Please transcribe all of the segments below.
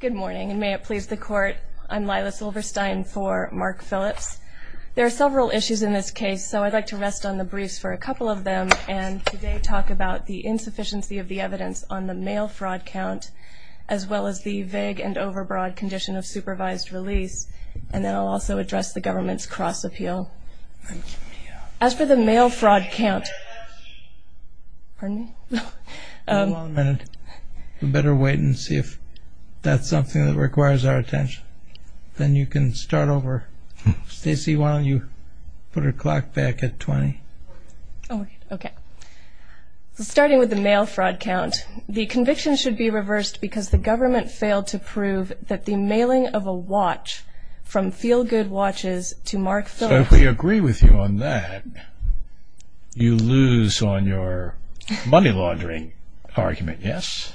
Good morning, and may it please the Court, I'm Lila Silverstein for Mark Phillips. There are several issues in this case, so I'd like to rest on the briefs for a couple of them and today talk about the insufficiency of the evidence on the mail fraud count as well as the vague and overbroad condition of supervised release, and then I'll also address the government's cross-appeal. As for the mail fraud count, we better wait and see if that's something that requires our attention. Then you can start over. Stacy, why don't you put her clock back at 20? Okay. Starting with the mail fraud count, the conviction should be reversed because the government failed to prove that the mailing of a watch from Feel Good Watches to Mark Phillips So if we agree with you on that, you lose on your money laundering argument, yes?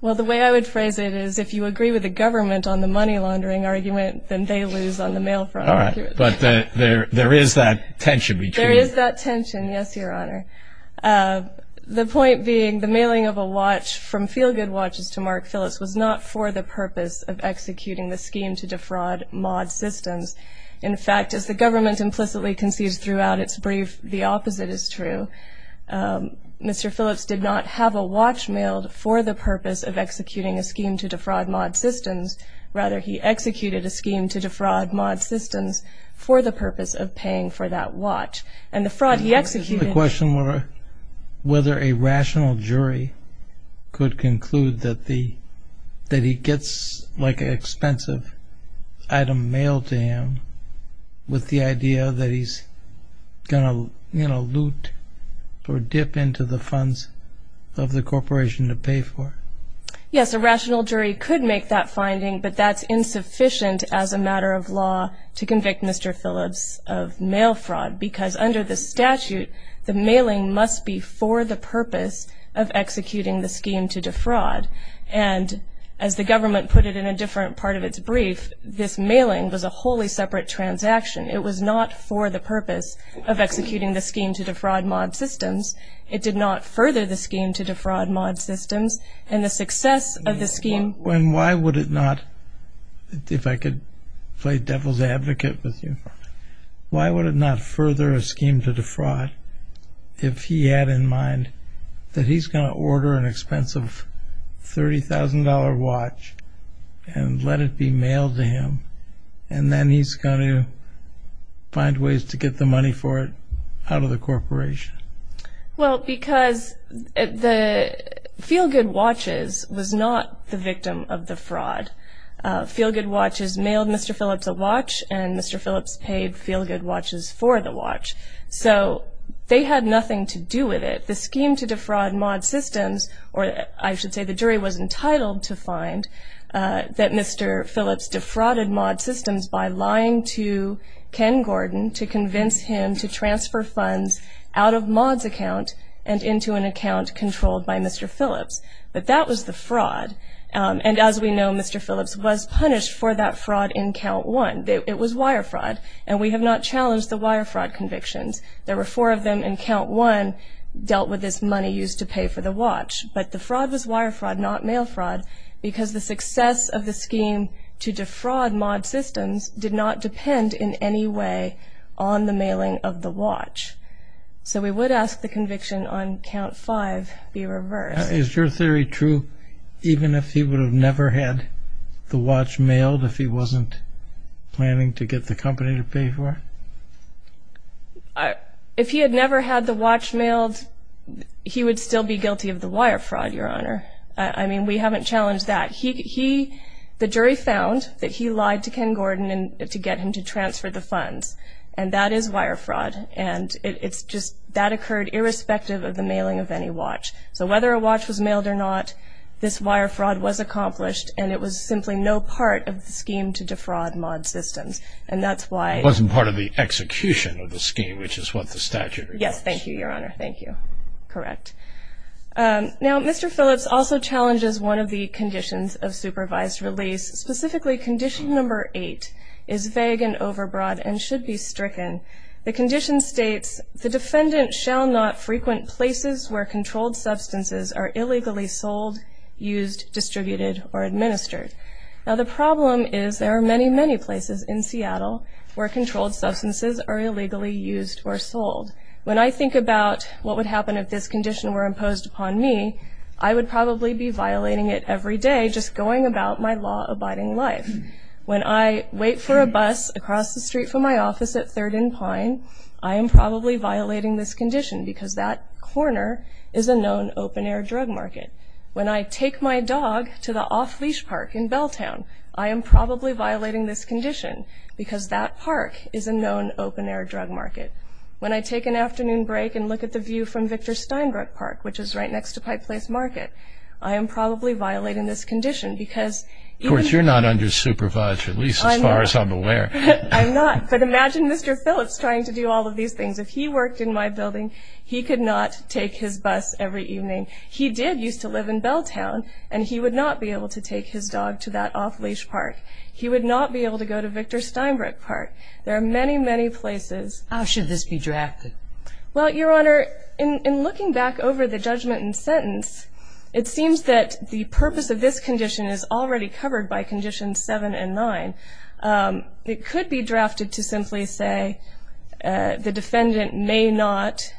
Well, the way I would phrase it is, if you agree with the government on the money laundering argument, then they lose on the mail fraud argument. All right. But there is that tension between There is that tension, yes, Your Honor. The point being, the mailing of a watch from Feel Good Watches to Mark Phillips was not for the purpose of executing the scheme to defraud mod systems. In fact, as the government implicitly concedes throughout its brief, the opposite is true. Mr. Phillips did not have a watch mailed for the purpose of executing a scheme to defraud mod systems. Rather, he executed a scheme to defraud mod systems for the purpose of paying for that watch. And the fraud he executed The question was whether a rational jury could conclude that he gets an expensive item mailed to him with the idea that he's going to loot or dip into the funds of the corporation to pay for it. Yes, a rational jury could make that finding, but that's insufficient as a matter of law to convict Mr. Phillips of mail fraud because under the statute, the mailing must be for the purpose of executing the scheme to defraud. And as the government put it in a different part of its brief, this mailing was a wholly separate transaction. It was not for the purpose of executing the scheme to defraud mod systems. It did not further the scheme to defraud mod systems. And the success of the scheme And why would it not, if I could play devil's advocate with you, why would it not further a scheme to defraud if he had in mind that he's going to order an expensive $30,000 watch and let it be mailed to him and then he's going to find ways to get the money for it out of the corporation? Well, because the Feelgood Watches was not the victim of the fraud. Feelgood Watches mailed Mr. Phillips a watch and Mr. Phillips paid Feelgood Watches for the watch. So they had nothing to do with it. The scheme to defraud mod systems, or I should say the jury was entitled to find, that Mr. Phillips defrauded mod systems by lying to Ken Gordon to convince him to transfer funds out of Maud's account and into an account controlled by Mr. Phillips. But that was the fraud. And as we know, Mr. Phillips was punished for that fraud in Count 1. It was wire fraud, and we have not challenged the wire fraud convictions. There were four of them, and Count 1 dealt with this money used to pay for the watch. But the fraud was wire fraud, not mail fraud, because the success of the scheme to defraud mod systems did not depend in any way on the mailing of the watch. So we would ask the conviction on Count 5 be reversed. Is your theory true even if he would have never had the watch mailed if he wasn't planning to get the company to pay for it? If he had never had the watch mailed, he would still be guilty of the wire fraud, Your Honor. I mean, we haven't challenged that. The jury found that he lied to Ken Gordon to get him to transfer the funds, and that is wire fraud. And it's just that occurred irrespective of the mailing of any watch. So whether a watch was mailed or not, this wire fraud was accomplished, and it was simply no part of the scheme to defraud Maud's systems, and that's why. It wasn't part of the execution of the scheme, which is what the statute requires. Yes, thank you, Your Honor. Thank you. Correct. Now, Mr. Phillips also challenges one of the conditions of supervised release, specifically condition number eight is vague and overbroad and should be stricken. The condition states, the defendant shall not frequent places where controlled substances are illegally sold, used, distributed, or administered. Now the problem is there are many, many places in Seattle where controlled substances are illegally used or sold. When I think about what would happen if this condition were imposed upon me, I would probably be violating it every day just going about my law-abiding life. When I wait for a bus across the street from my office at 3rd and Pine, I am probably violating this condition because that corner is a known open-air drug market. When I take my dog to the off-leash park in Belltown, I am probably violating this condition because that park is a known open-air drug market. When I take an afternoon break and look at the view from Victor Steinbrook Park, which is right next to Pike Place Market, I am probably violating this condition because even... Of course, you're not under supervised release as far as I'm aware. I'm not, but imagine Mr. Phillips trying to do all of these things. If he worked in my building, he could not take his bus every evening. He did used to live in Belltown, and he would not be able to take his dog to that off-leash park. He would not be able to go to Victor Steinbrook Park. There are many, many places. How should this be drafted? Well, Your Honor, in looking back over the judgment and sentence, it seems that the purpose of this condition is already covered by Conditions 7 and 9. It could be drafted to simply say the defendant may not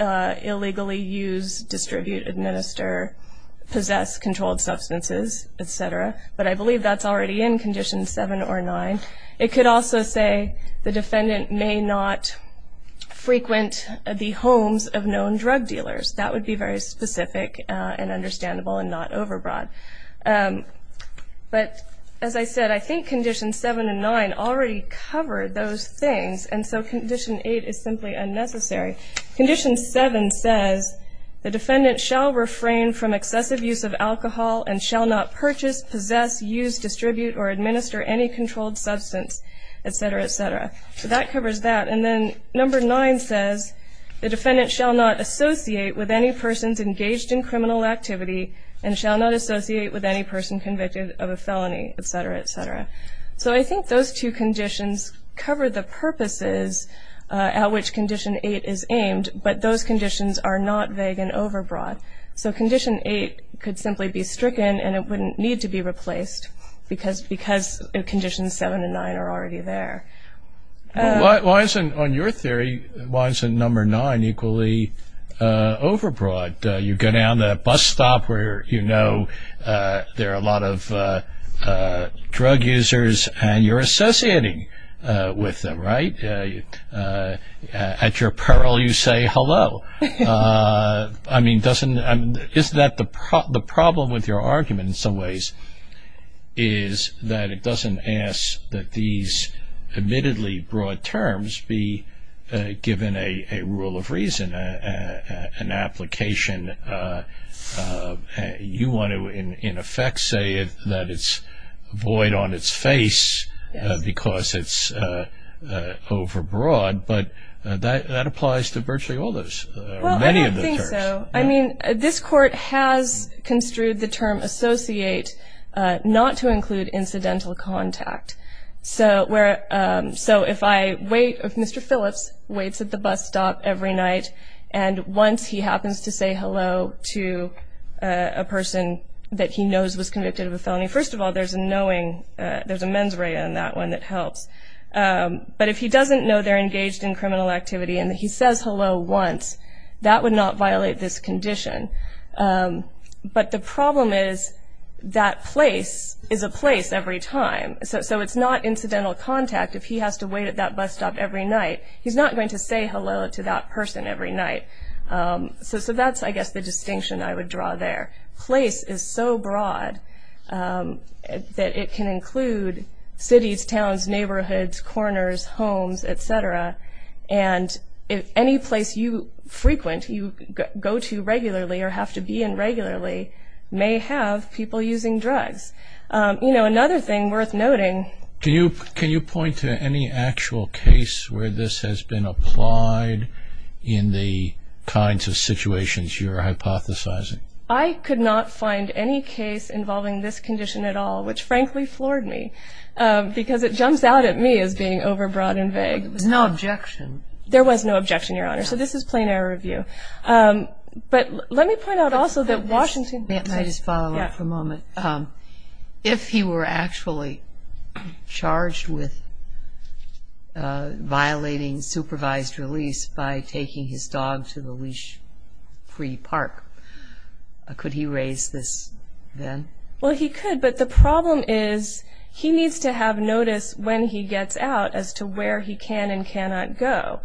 illegally use, distribute, administer, possess controlled substances, et cetera, but I believe that's already in Conditions 7 or 9. It could also say the defendant may not frequent the homes of known drug dealers. That would be very specific and understandable and not overbroad. But as I said, I think Conditions 7 and 9 already cover those things, and so Condition 8 is simply unnecessary. Condition 7 says the defendant shall refrain from excessive use of alcohol and shall not purchase, possess, use, distribute, or administer any controlled substance, et cetera, et cetera. So that covers that. And then Number 9 says the defendant shall not associate with any persons engaged in criminal activity and shall not associate with any person convicted of a felony, et cetera, et cetera. So I think those two conditions cover the purposes at which Condition 8 is aimed, but those conditions are not vague and overbroad. So Condition 8 could simply be stricken and it wouldn't need to be replaced because Conditions 7 and 9 are already there. Why isn't, on your theory, why isn't Number 9 equally overbroad? You go down that bus stop where you know there are a lot of drug users and you're associating with them, right? At your peril, you say hello. I mean, isn't that the problem with your argument in some ways is that it doesn't ask that these admittedly broad terms be given a rule of reason, an application. You want to, in effect, say that it's void on its face because it's overbroad, but that applies to virtually all those, many of those terms. Well, I don't think so. I mean, this Court has construed the term associate not to include incidental contact. So if I wait, if Mr. Phillips waits at the bus stop every night and once he happens to say hello to a person that he knows was convicted of a felony, first of all, there's a knowing, there's a mens rea in that one that helps. But if he doesn't know they're engaged in criminal activity and he says hello once, that would not violate this condition. But the problem is that place is a place every time. So it's not incidental contact if he has to wait at that bus stop every night. He's not going to say hello to that person every night. So that's, I guess, the distinction I would draw there. Place is so broad that it can include cities, towns, neighborhoods, corners, homes, et cetera. And any place you frequent, you go to regularly or have to be in regularly, may have people using drugs. You know, another thing worth noting. Can you point to any actual case where this has been applied in the kinds of situations you're hypothesizing? I could not find any case involving this condition at all, which frankly floored me, because it jumps out at me as being overbroad and vague. There was no objection. There was no objection, Your Honor. So this is plain air review. But let me point out also that Washington. May I just follow up for a moment? If he were actually charged with violating supervised release by taking his dog to the leash-free park, could he raise this then? Well, he could. But the problem is he needs to have notice when he gets out as to where he can and cannot go.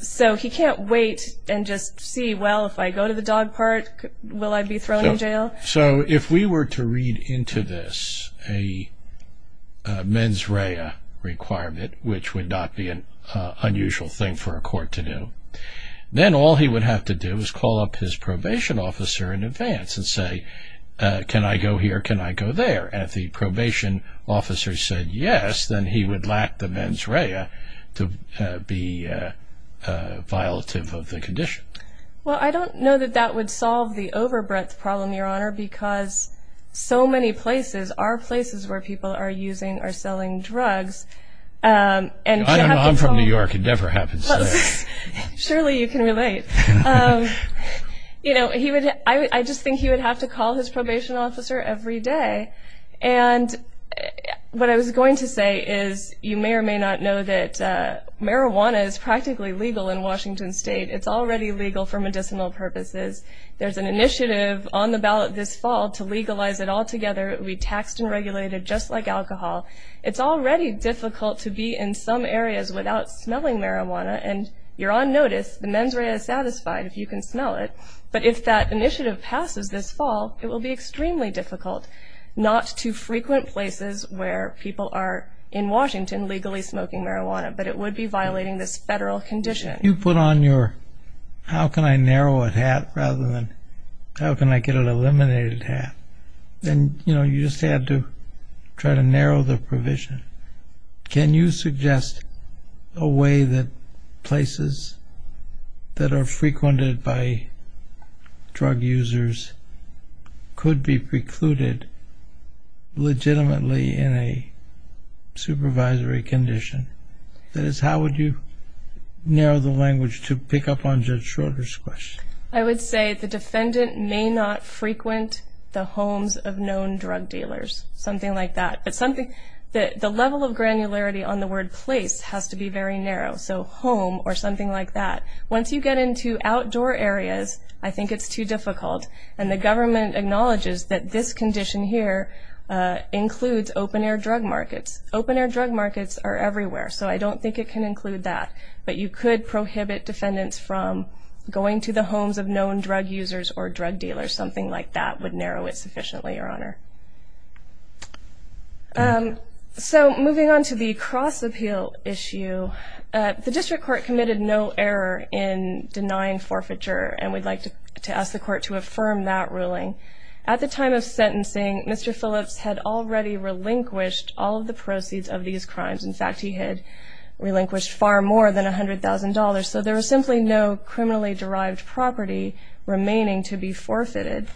So he can't wait and just see, well, if I go to the dog park, will I be thrown in jail? So if we were to read into this a mens rea requirement, which would not be an unusual thing for a court to do, then all he would have to do is call up his probation officer in advance and say, can I go here, can I go there? And if the probation officer said yes, then he would lack the mens rea to be violative of the condition. Well, I don't know that that would solve the overbreadth problem, Your Honor, because so many places are places where people are using or selling drugs. I don't know. I'm from New York. It never happens. Surely you can relate. You know, I just think he would have to call his probation officer every day. And what I was going to say is you may or may not know that marijuana is practically legal in Washington State. It's already legal for medicinal purposes. There's an initiative on the ballot this fall to legalize it altogether. It will be taxed and regulated just like alcohol. It's already difficult to be in some areas without smelling marijuana, and you're on notice, the mens rea is satisfied if you can smell it. But if that initiative passes this fall, it will be extremely difficult, not to frequent places where people are in Washington legally smoking marijuana, but it would be violating this federal condition. You put on your how-can-I-narrow-it hat rather than how-can-I-get-it-eliminated hat, and, you know, you just had to try to narrow the provision. Can you suggest a way that places that are frequented by drug users could be precluded legitimately in a supervisory condition? That is, how would you narrow the language to pick up on Judge Schroeder's question? I would say the defendant may not frequent the homes of known drug dealers, something like that. But the level of granularity on the word place has to be very narrow, so home or something like that. Once you get into outdoor areas, I think it's too difficult, and the government acknowledges that this condition here includes open-air drug markets. Open-air drug markets are everywhere, so I don't think it can include that. But you could prohibit defendants from going to the homes of known drug users or drug dealers, something like that would narrow it sufficiently, Your Honor. So moving on to the cross-appeal issue, the district court committed no error in denying forfeiture, and we'd like to ask the court to affirm that ruling. At the time of sentencing, Mr. Phillips had already relinquished all of the proceeds of these crimes. In fact, he had relinquished far more than $100,000, so there was simply no criminally-derived property remaining to be forfeited.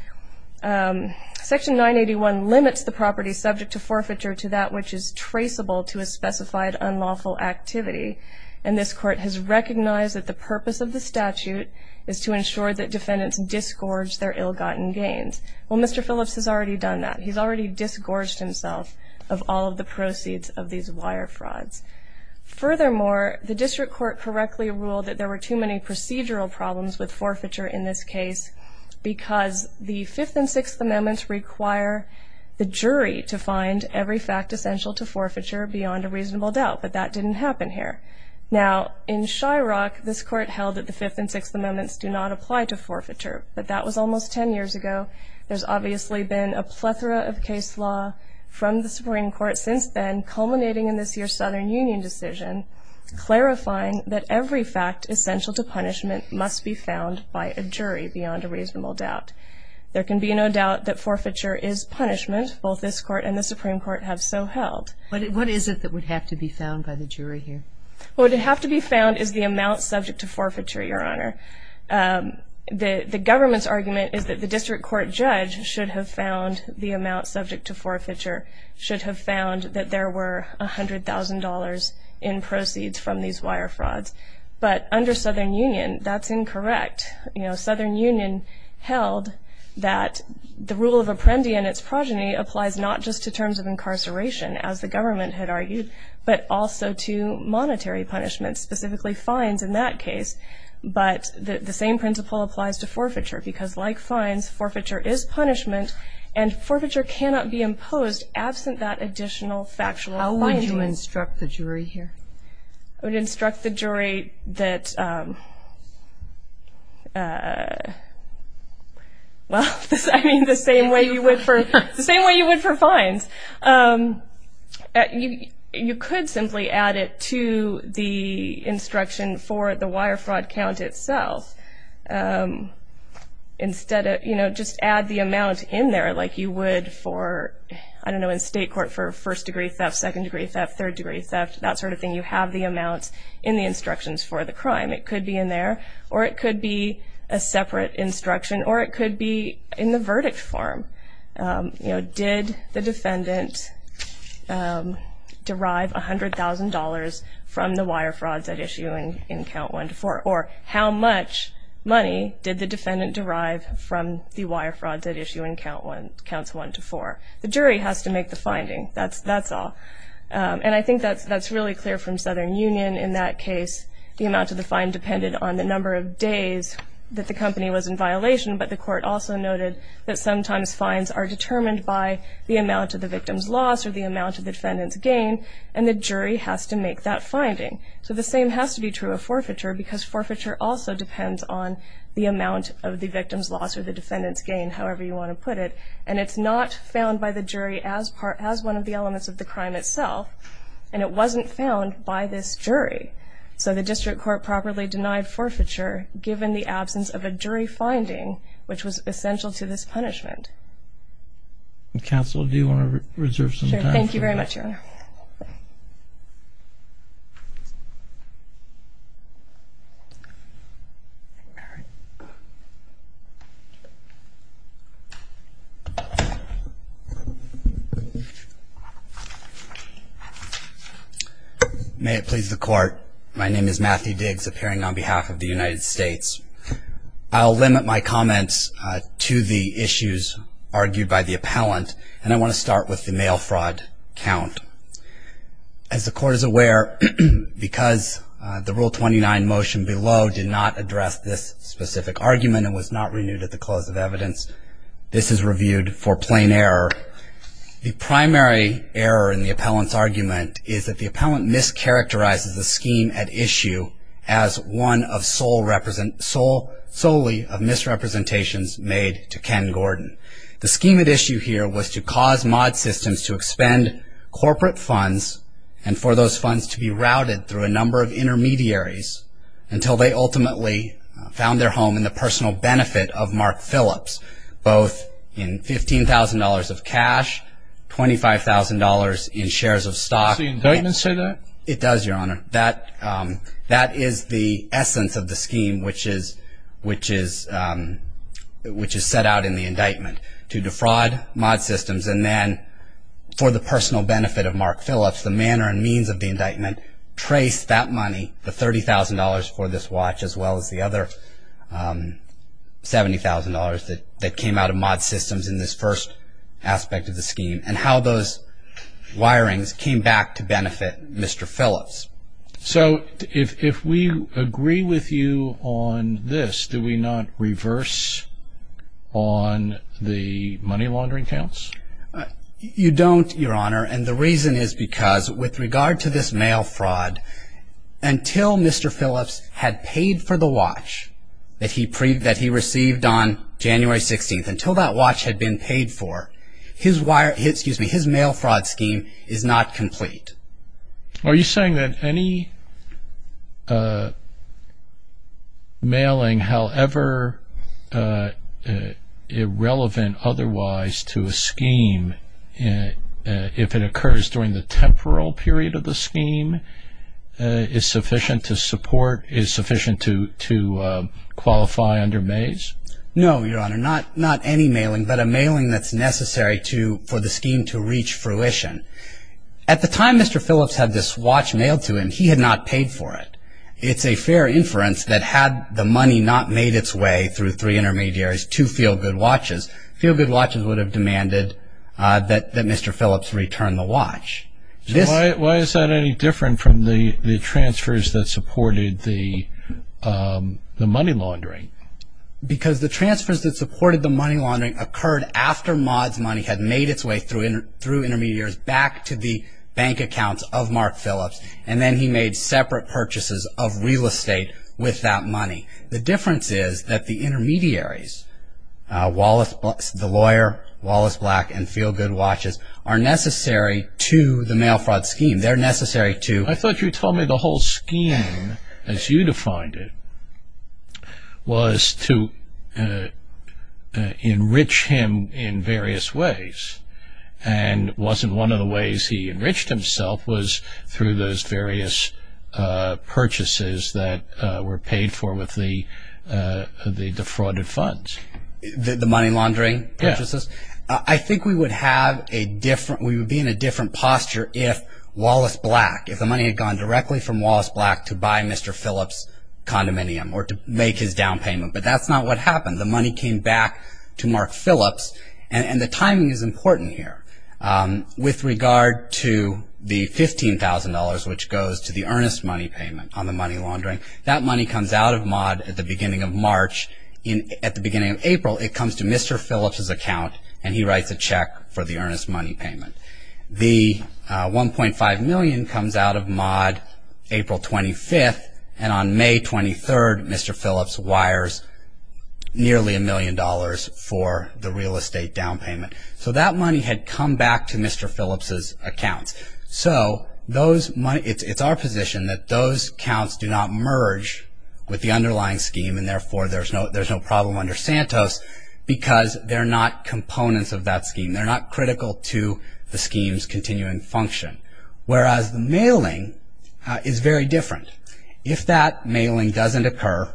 Section 981 limits the property subject to forfeiture to that which is traceable to a specified unlawful activity, and this court has recognized that the purpose of the statute is to ensure that defendants disgorge their ill-gotten gains. Well, Mr. Phillips has already done that. He's already disgorged himself of all of the proceeds of these wire frauds. Furthermore, the district court correctly ruled that there were too many procedural problems with forfeiture in this case because the Fifth and Sixth Amendments require the jury to find every fact essential to forfeiture beyond a reasonable doubt, but that didn't happen here. Now, in Shyrock, this court held that the Fifth and Sixth Amendments do not apply to forfeiture, but that was almost 10 years ago. There's obviously been a plethora of case law from the Supreme Court since then, culminating in this year's Southern Union decision, clarifying that every fact essential to punishment must be found by a jury beyond a reasonable doubt. There can be no doubt that forfeiture is punishment. Both this court and the Supreme Court have so held. What is it that would have to be found by the jury here? Well, what would have to be found is the amount subject to forfeiture, Your Honor. The government's argument is that the district court judge should have found the amount subject to forfeiture, should have found that there were $100,000 in proceeds from these wire frauds. But under Southern Union, that's incorrect. You know, Southern Union held that the rule of apprendi and its progeny applies not just to terms of incarceration, as the government had argued, but also to monetary punishment, specifically fines in that case. But the same principle applies to forfeiture, because like fines, forfeiture is punishment, and forfeiture cannot be imposed absent that additional factual finding. How would you instruct the jury here? I would instruct the jury that, well, I mean, the same way you would for fines. You could simply add it to the instruction for the wire fraud count itself. Instead of, you know, just add the amount in there like you would for, I don't know, in state court for first-degree theft, second-degree theft, third-degree theft, that sort of thing, you have the amount in the instructions for the crime. It could be in there, or it could be a separate instruction, or it could be in the verdict form. You know, did the defendant derive $100,000 from the wire frauds at issue in Count 1 to 4? Or how much money did the defendant derive from the wire frauds at issue in Counts 1 to 4? The jury has to make the finding. That's all. And I think that's really clear from Southern Union. In that case, the amount of the fine depended on the number of days that the company was in violation, but the court also noted that sometimes fines are determined by the amount of the victim's loss or the amount of the defendant's gain, and the jury has to make that finding. So the same has to be true of forfeiture, because forfeiture also depends on the amount of the victim's loss or the defendant's gain, however you want to put it, and it's not found by the jury as one of the elements of the crime itself, and it wasn't found by this jury. So the district court properly denied forfeiture given the absence of a jury finding, which was essential to this punishment. Counsel, do you want to reserve some time for that? Sure. Thank you very much, Your Honor. May it please the court. My name is Matthew Diggs, appearing on behalf of the United States. I'll limit my comments to the issues argued by the appellant, and I want to start with the mail fraud count. As the court is aware, because the Rule 29 motion below did not address this specific argument and was not renewed at the close of evidence, this is reviewed for plain error. The primary error in the appellant's argument is that the appellant mischaracterizes the scheme at issue as one solely of misrepresentations made to Ken Gordon. The scheme at issue here was to cause mod systems to expend corporate funds and for those funds to be routed through a number of intermediaries until they ultimately found their home in the personal benefit of Mark Phillips, both in $15,000 of cash, $25,000 in shares of stock. Does the indictment say that? It does, Your Honor. That is the essence of the scheme, which is set out in the indictment, to defraud mod systems and then for the personal benefit of Mark Phillips, the manner and means of the indictment, to trace that money, the $30,000 for this watch as well as the other $70,000 that came out of mod systems in this first aspect of the scheme and how those wirings came back to benefit Mr. Phillips. So if we agree with you on this, do we not reverse on the money laundering counts? You don't, Your Honor, and the reason is because with regard to this mail fraud, until Mr. Phillips had paid for the watch that he received on January 16th, until that watch had been paid for, his mail fraud scheme is not complete. Are you saying that any mailing, however irrelevant otherwise to a scheme, if it occurs during the temporal period of the scheme, is sufficient to support, is sufficient to qualify under Mays? No, Your Honor, not any mailing, but a mailing that's necessary for the scheme to reach fruition. At the time Mr. Phillips had this watch mailed to him, he had not paid for it. It's a fair inference that had the money not made its way through three intermediaries to Feel Good Watches, Feel Good Watches would have demanded that Mr. Phillips return the watch. Why is that any different from the transfers that supported the money laundering? Because the transfers that supported the money laundering had made its way through intermediaries back to the bank accounts of Mark Phillips, and then he made separate purchases of real estate with that money. The difference is that the intermediaries, the lawyer, Wallace Black, and Feel Good Watches, are necessary to the mail fraud scheme. They're necessary to I thought you told me the whole scheme, as you defined it, was to enrich him in various ways, and wasn't one of the ways he enriched himself, was through those various purchases that were paid for with the defrauded funds. The money laundering purchases? Yes. I think we would be in a different posture if Wallace Black, if the money had gone directly from Wallace Black to buy Mr. Phillips' condominium, or to make his down payment, but that's not what happened. The money came back to Mark Phillips, and the timing is important here. With regard to the $15,000, which goes to the earnest money payment on the money laundering, that money comes out of Maude at the beginning of March. At the beginning of April, it comes to Mr. Phillips' account, and he writes a check for the earnest money payment. The $1.5 million comes out of Maude April 25th, and on May 23rd, Mr. Phillips wires nearly a million dollars for the real estate down payment. So that money had come back to Mr. Phillips' accounts. So it's our position that those accounts do not merge with the underlying scheme, and therefore there's no problem under Santos, because they're not components of that scheme. They're not critical to the scheme's continuing function. Whereas the mailing is very different. If that mailing doesn't occur,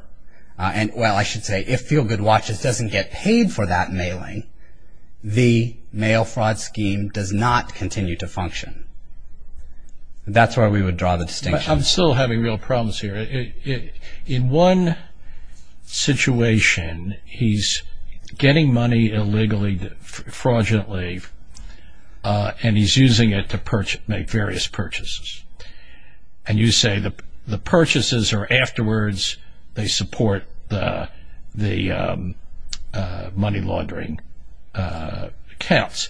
and well, I should say, if Feel Good Watches doesn't get paid for that mailing, the mail fraud scheme does not continue to function. That's where we would draw the distinction. I'm still having real problems here. In one situation, he's getting money illegally, fraudulently, and he's using it to make various purchases. And you say the purchases are afterwards, they support the money laundering accounts.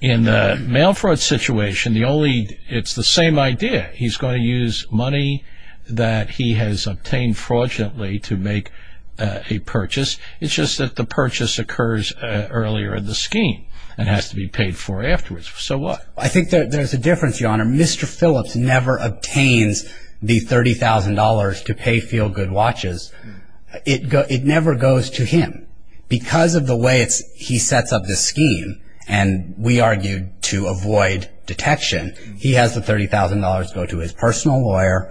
In the mail fraud situation, it's the same idea. He's going to use money that he has obtained fraudulently to make a purchase. It's just that the purchase occurs earlier in the scheme and has to be paid for afterwards. So what? I think there's a difference, Your Honor. Mr. Phillips never obtains the $30,000 to pay Feel Good Watches. It never goes to him. Because of the way he sets up this scheme, and we argued to avoid detection, he has the $30,000 go to his personal lawyer,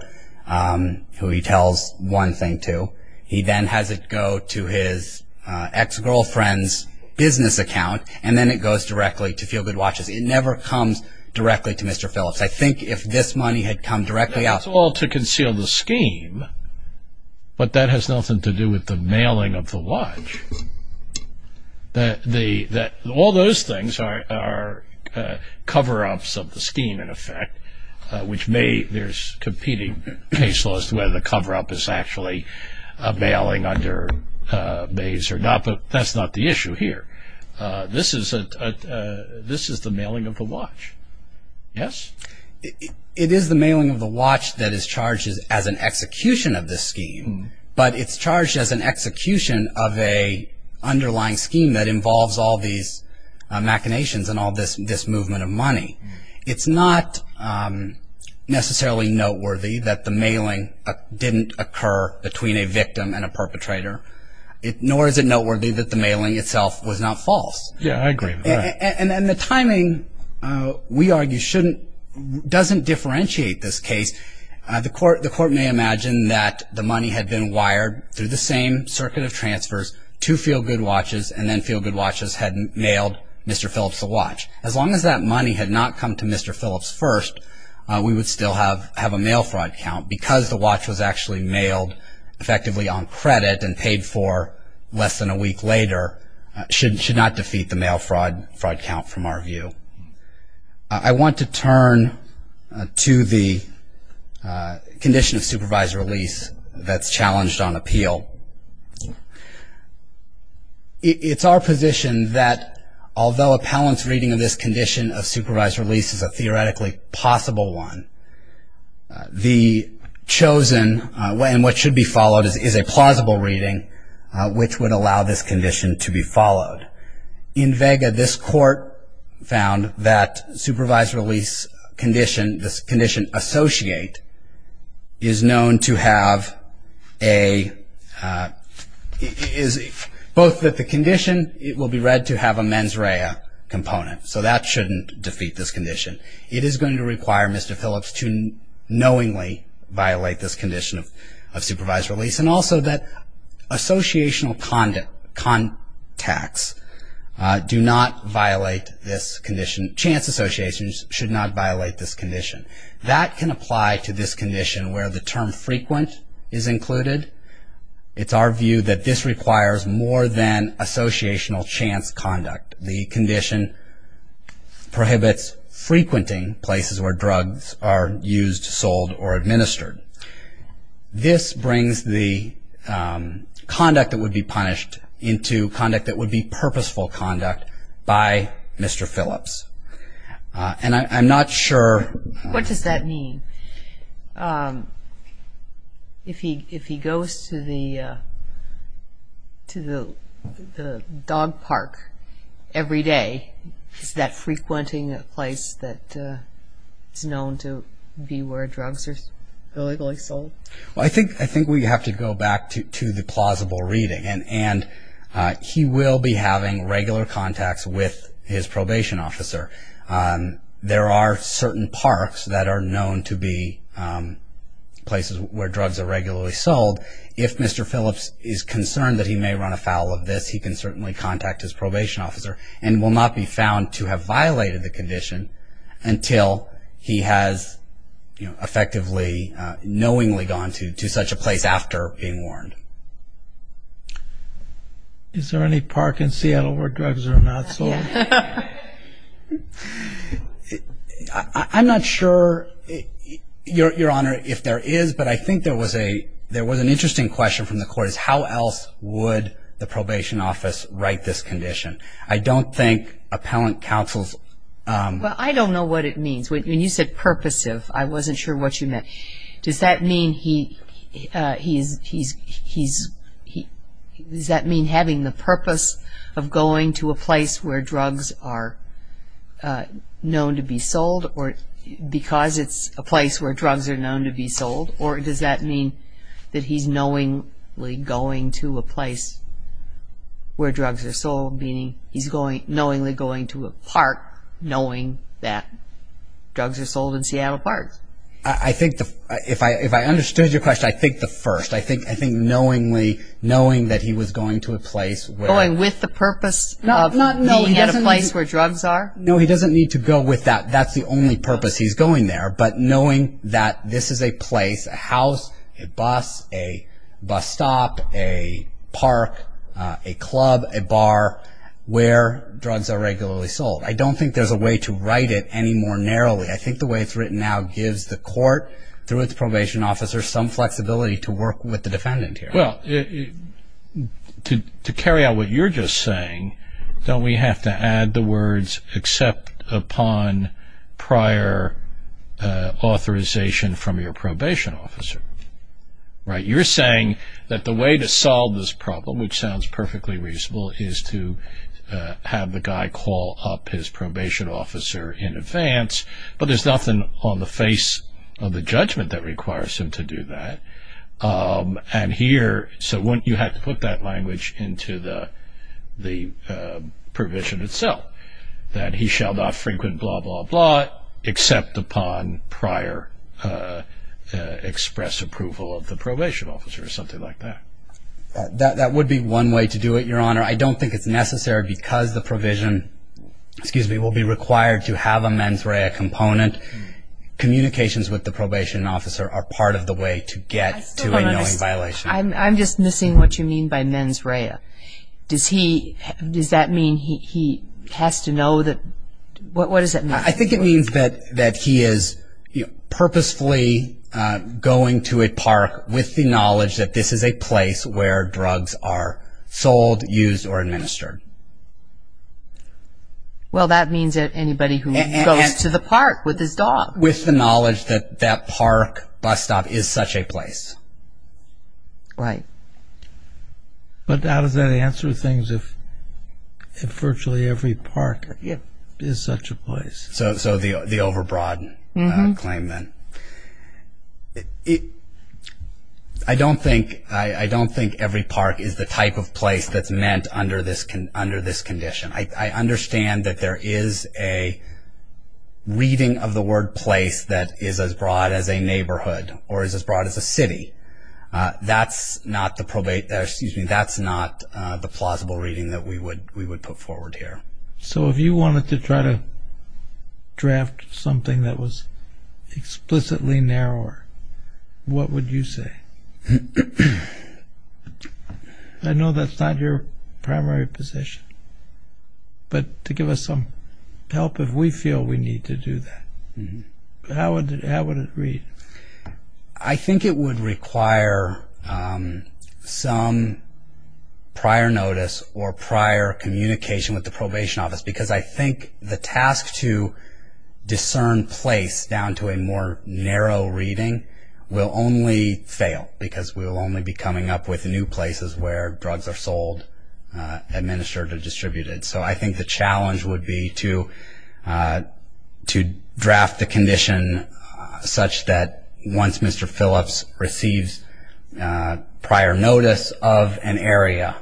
who he tells one thing to. He then has it go to his ex-girlfriend's business account, and then it goes directly to Feel Good Watches. It never comes directly to Mr. Phillips. I think if this money had come directly out. That's all to conceal the scheme, but that has nothing to do with the mailing of the watch. All those things are cover-ups of the scheme, in effect, which may there's competing case laws to whether the cover-up is actually a mailing under Mays or not, but that's not the issue here. This is the mailing of the watch. Yes? It is the mailing of the watch that is charged as an execution of this scheme, but it's charged as an execution of an underlying scheme that involves all these machinations and all this movement of money. It's not necessarily noteworthy that the mailing didn't occur between a victim and a perpetrator, nor is it noteworthy that the mailing itself was not false. Yes, I agree. The timing, we argue, doesn't differentiate this case. The court may imagine that the money had been wired through the same circuit of transfers to Feel Good Watches, and then Feel Good Watches had mailed Mr. Phillips the watch. As long as that money had not come to Mr. Phillips first, we would still have a mail fraud count, because the watch was actually mailed effectively on credit and paid for less than a week later, should not defeat the mail fraud count from our view. I want to turn to the condition of supervised release that's challenged on appeal. It's our position that although a palant reading of this condition of supervised release is a theoretically possible one, the chosen, and what should be followed, is a plausible reading, which would allow this condition to be followed. In Vega, this court found that supervised release condition, this condition associate, is known to have a, both that the condition will be read to have a mens rea component, it is going to require Mr. Phillips to knowingly violate this condition of supervised release, and also that associational contacts do not violate this condition. Chance associations should not violate this condition. That can apply to this condition where the term frequent is included. It's our view that this requires more than associational chance conduct. The condition prohibits frequenting places where drugs are used, sold, or administered. This brings the conduct that would be punished into conduct that would be purposeful conduct by Mr. Phillips. And I'm not sure... What does that mean? If he goes to the dog park every day, is that frequenting a place that is known to be where drugs are illegally sold? I think we have to go back to the plausible reading, and he will be having regular contacts with his probation officer. There are certain parks that are known to be places where drugs are regularly sold. If Mr. Phillips is concerned that he may run afoul of this, he can certainly contact his probation officer, and will not be found to have violated the condition until he has effectively, knowingly gone to such a place after being warned. Is there any park in Seattle where drugs are not sold? I'm not sure, Your Honor, if there is, but I think there was an interesting question from the court. How else would the probation office write this condition? I don't think appellant counsels... Well, I don't know what it means. When you said purposive, I wasn't sure what you meant. Does that mean having the purpose of going to a place where drugs are known to be sold, or because it's a place where drugs are known to be sold, or does that mean that he's knowingly going to a place where drugs are sold, meaning he's knowingly going to a park knowing that drugs are sold in Seattle parks? If I understood your question, I think the first. I think knowingly, knowing that he was going to a place where... Going with the purpose of being at a place where drugs are? No, he doesn't need to go with that. That's the only purpose he's going there, but knowing that this is a place, a house, a bus, a bus stop, a park, a club, a bar, where drugs are regularly sold. I don't think there's a way to write it any more narrowly. I think the way it's written now gives the court, through its probation officer, some flexibility to work with the defendant here. To carry out what you're just saying, don't we have to add the words, except upon prior authorization from your probation officer? You're saying that the way to solve this problem, which sounds perfectly reasonable, is to have the guy call up his probation officer in advance, but there's nothing on the face of the judgment that requires him to do that. So wouldn't you have to put that language into the provision itself? That he shall not frequent blah, blah, blah, except upon prior express approval of the probation officer, or something like that? That would be one way to do it, Your Honor. I don't think it's necessary because the provision will be required to have a mens rea component. Communications with the probation officer are part of the way to get to a knowing violation. I'm just missing what you mean by mens rea. Does that mean he has to know that? What does that mean? I think it means that he is purposefully going to a park with the knowledge that this is a place where drugs are sold, used, or administered. Well, that means that anybody who goes to the park with his dog. With the knowledge that that park, bus stop, is such a place. Right. But how does that answer things if virtually every park is such a place? So the over broad claim then. I don't think every park is the type of place that's meant under this condition. I understand that there is a reading of the word place that is as broad as a neighborhood, or is as broad as a city. That's not the plausible reading that we would put forward here. So if you wanted to try to draft something that was explicitly narrower, what would you say? I know that's not your primary position, but to give us some help if we feel we need to do that. How would it read? I think it would require some prior notice or prior communication with the probation office, because I think the task to discern place down to a more narrow reading will only fail, because we will only be coming up with new places where drugs are sold, administered, or distributed. So I think the challenge would be to draft the condition such that once Mr. Phillips receives prior notice of an area,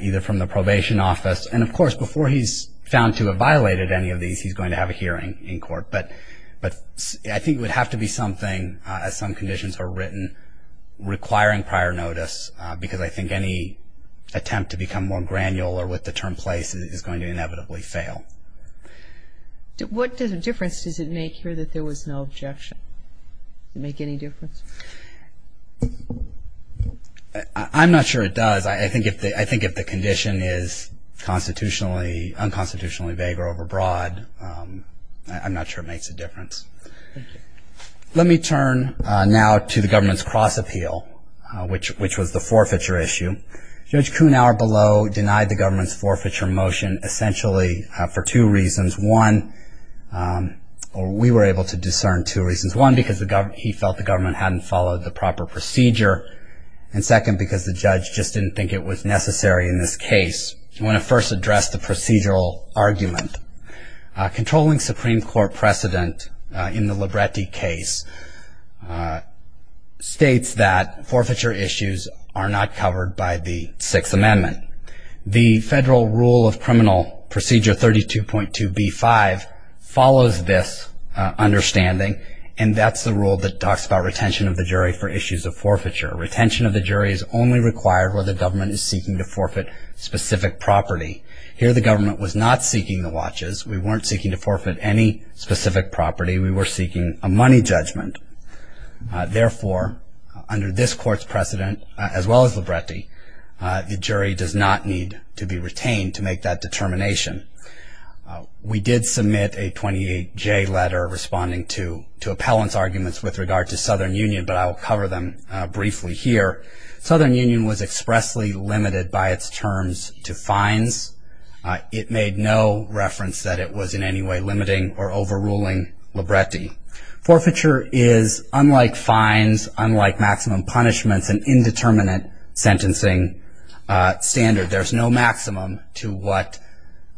either from the probation office, and, of course, before he's found to have violated any of these he's going to have a hearing in court. But I think it would have to be something, as some conditions are written, requiring prior notice, because I think any attempt to become more granular with the term place is going to inevitably fail. What difference does it make here that there was no objection? Does it make any difference? I'm not sure it does. I think if the condition is unconstitutionally vague or overbroad, I'm not sure it makes a difference. Let me turn now to the government's cross appeal, which was the forfeiture issue. Judge Kuhnhauer below denied the government's forfeiture motion essentially for two reasons. One, we were able to discern two reasons. One, because he felt the government hadn't followed the proper procedure. And second, because the judge just didn't think it was necessary in this case. I want to first address the procedural argument. Controlling Supreme Court precedent in the Libretti case states that forfeiture issues are not covered by the Sixth Amendment. The federal rule of criminal procedure 32.2b-5 follows this understanding, and that's the rule that talks about retention of the jury for issues of forfeiture. Retention of the jury is only required where the government is seeking to forfeit specific property. Here the government was not seeking the watches. We weren't seeking to forfeit any specific property. We were seeking a money judgment. Therefore, under this court's precedent, as well as Libretti, the jury does not need to be retained to make that determination. We did submit a 28J letter responding to appellant's arguments with regard to Southern Union, but I will cover them briefly here. Southern Union was expressly limited by its terms to fines. It made no reference that it was in any way limiting or overruling Libretti. Forfeiture is, unlike fines, unlike maximum punishments, an indeterminate sentencing standard. There's no maximum to what,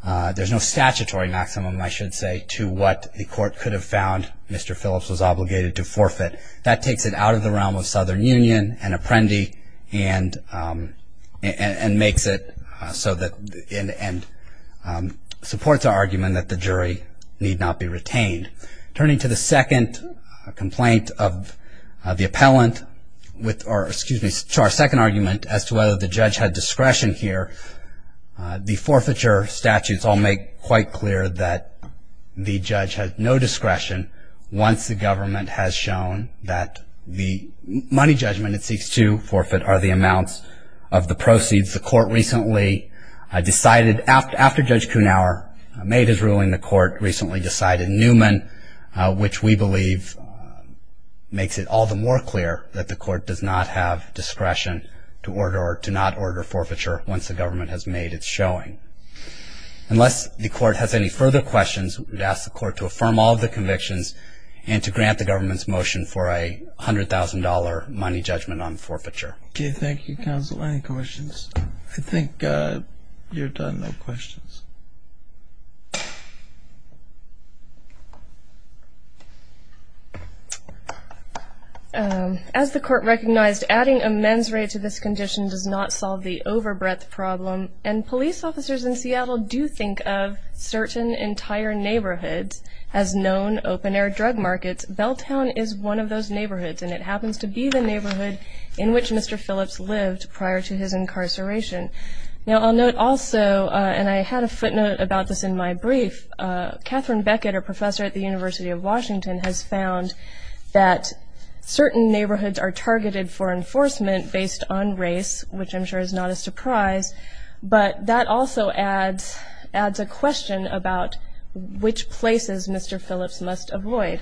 there's no statutory maximum, I should say, to what the court could have found Mr. Phillips was obligated to forfeit. That takes it out of the realm of Southern Union and Apprendi and makes it so that, and supports our argument that the jury need not be retained. Turning to the second complaint of the appellant with, or excuse me, to our second argument as to whether the judge had discretion here, the forfeiture statutes all make quite clear that the judge had no discretion once the government has shown that the money judgment it seeks to forfeit are the amounts of the proceeds. The court recently decided, after Judge Kuhnhauer made his ruling, the court recently decided Newman, which we believe makes it all the more clear that the court does not have discretion to order or to not order forfeiture once the government has made its showing. Unless the court has any further questions, we'd ask the court to affirm all of the convictions and to grant the government's motion for a $100,000 money judgment on forfeiture. Okay, thank you, counsel. Any questions? I think you're done. No questions. As the court recognized, adding a men's rate to this condition does not solve the overbreadth problem, and police officers in Seattle do think of certain entire neighborhoods as known open-air drug markets. Belltown is one of those neighborhoods, and it happens to be the neighborhood in which Mr. Phillips lived prior to his incarceration. Now I'll note also, and I had a footnote about this in my brief, Catherine Beckett, a professor at the University of Washington, has found that certain neighborhoods are targeted for enforcement based on race, which I'm sure is not a surprise, but that also adds a question about which places Mr. Phillips must avoid.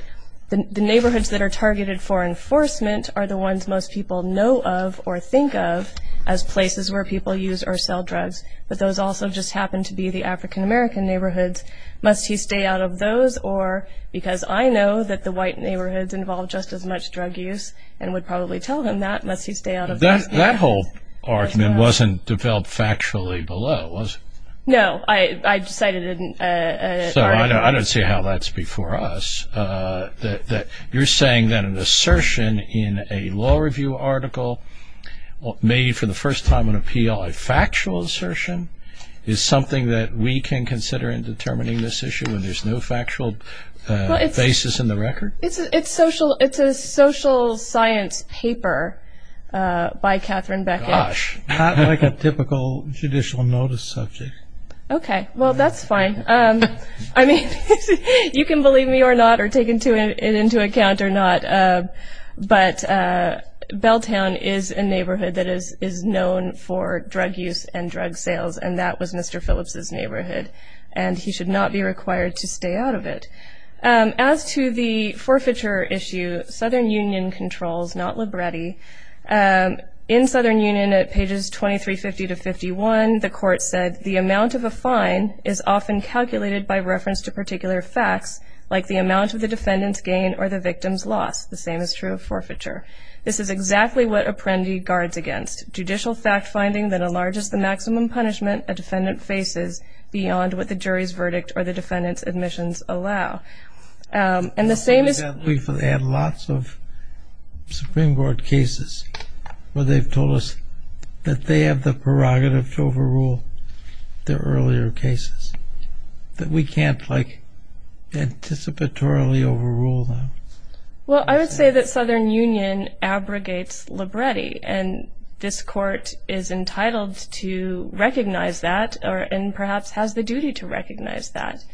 The neighborhoods that are targeted for enforcement are the ones most people know of or think of as places where people use or sell drugs, but those also just happen to be the African-American neighborhoods. Must he stay out of those, or because I know that the white neighborhoods involve just as much drug use and would probably tell him that, must he stay out of those? That whole argument wasn't developed factually below, was it? No, I decided it didn't. So I don't see how that's before us, that you're saying that an assertion in a law review article made for the first time on appeal a factual assertion is something that we can consider in determining this issue when there's no factual basis in the record? It's a social science paper by Catherine Beckett. Gosh, not like a typical judicial notice subject. Okay, well, that's fine. I mean, you can believe me or not or take it into account or not, but Belltown is a neighborhood that is known for drug use and drug sales, and that was Mr. Phillips' neighborhood, and he should not be required to stay out of it. As to the forfeiture issue, Southern Union controls, not Libretti. In Southern Union, at pages 2350 to 51, the court said, the amount of a fine is often calculated by reference to particular facts, like the amount of the defendant's gain or the victim's loss. The same is true of forfeiture. This is exactly what Apprendi guards against, judicial fact-finding that enlarges the maximum punishment a defendant faces beyond what the jury's verdict or the defendant's admissions allow. We've had lots of Supreme Court cases where they've told us that they have the prerogative to overrule the earlier cases, that we can't, like, anticipatorily overrule them. Well, I would say that Southern Union abrogates Libretti, and this court is entitled to recognize that and perhaps has the duty to recognize that.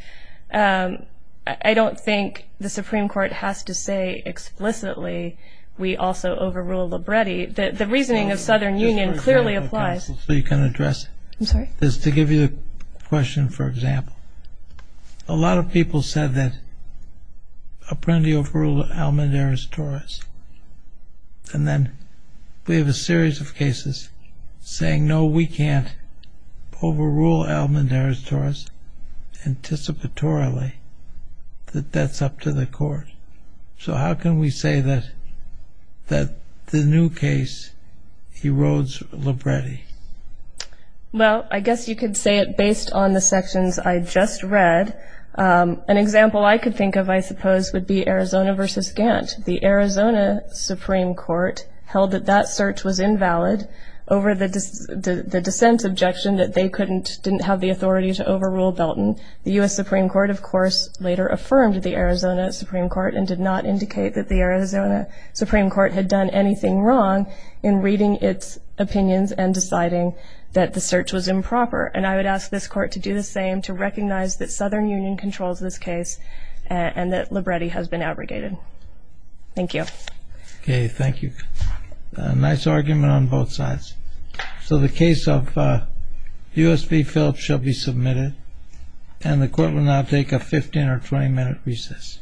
I don't think the Supreme Court has to say explicitly, we also overrule Libretti. The reasoning of Southern Union clearly applies. So you can address it. I'm sorry? Just to give you a question for example. A lot of people said that Apprendi overruled Almedares-Torres, and then we have a series of cases saying, no, we can't overrule Almedares-Torres anticipatorily, that that's up to the court. So how can we say that the new case erodes Libretti? Well, I guess you could say it based on the sections I just read. An example I could think of, I suppose, would be Arizona v. Gantt. The Arizona Supreme Court held that that search was invalid over the dissent objection that they didn't have the authority to overrule Belton. The U.S. Supreme Court, of course, later affirmed the Arizona Supreme Court and did not indicate that the Arizona Supreme Court had done anything wrong in reading its opinions and deciding that the search was improper. And I would ask this court to do the same, to recognize that Southern Union controls this case and that Libretti has been abrogated. Thank you. Okay, thank you. Nice argument on both sides. So the case of U.S. v. Phillips shall be submitted, and the court will now take a 15- or 20-minute recess.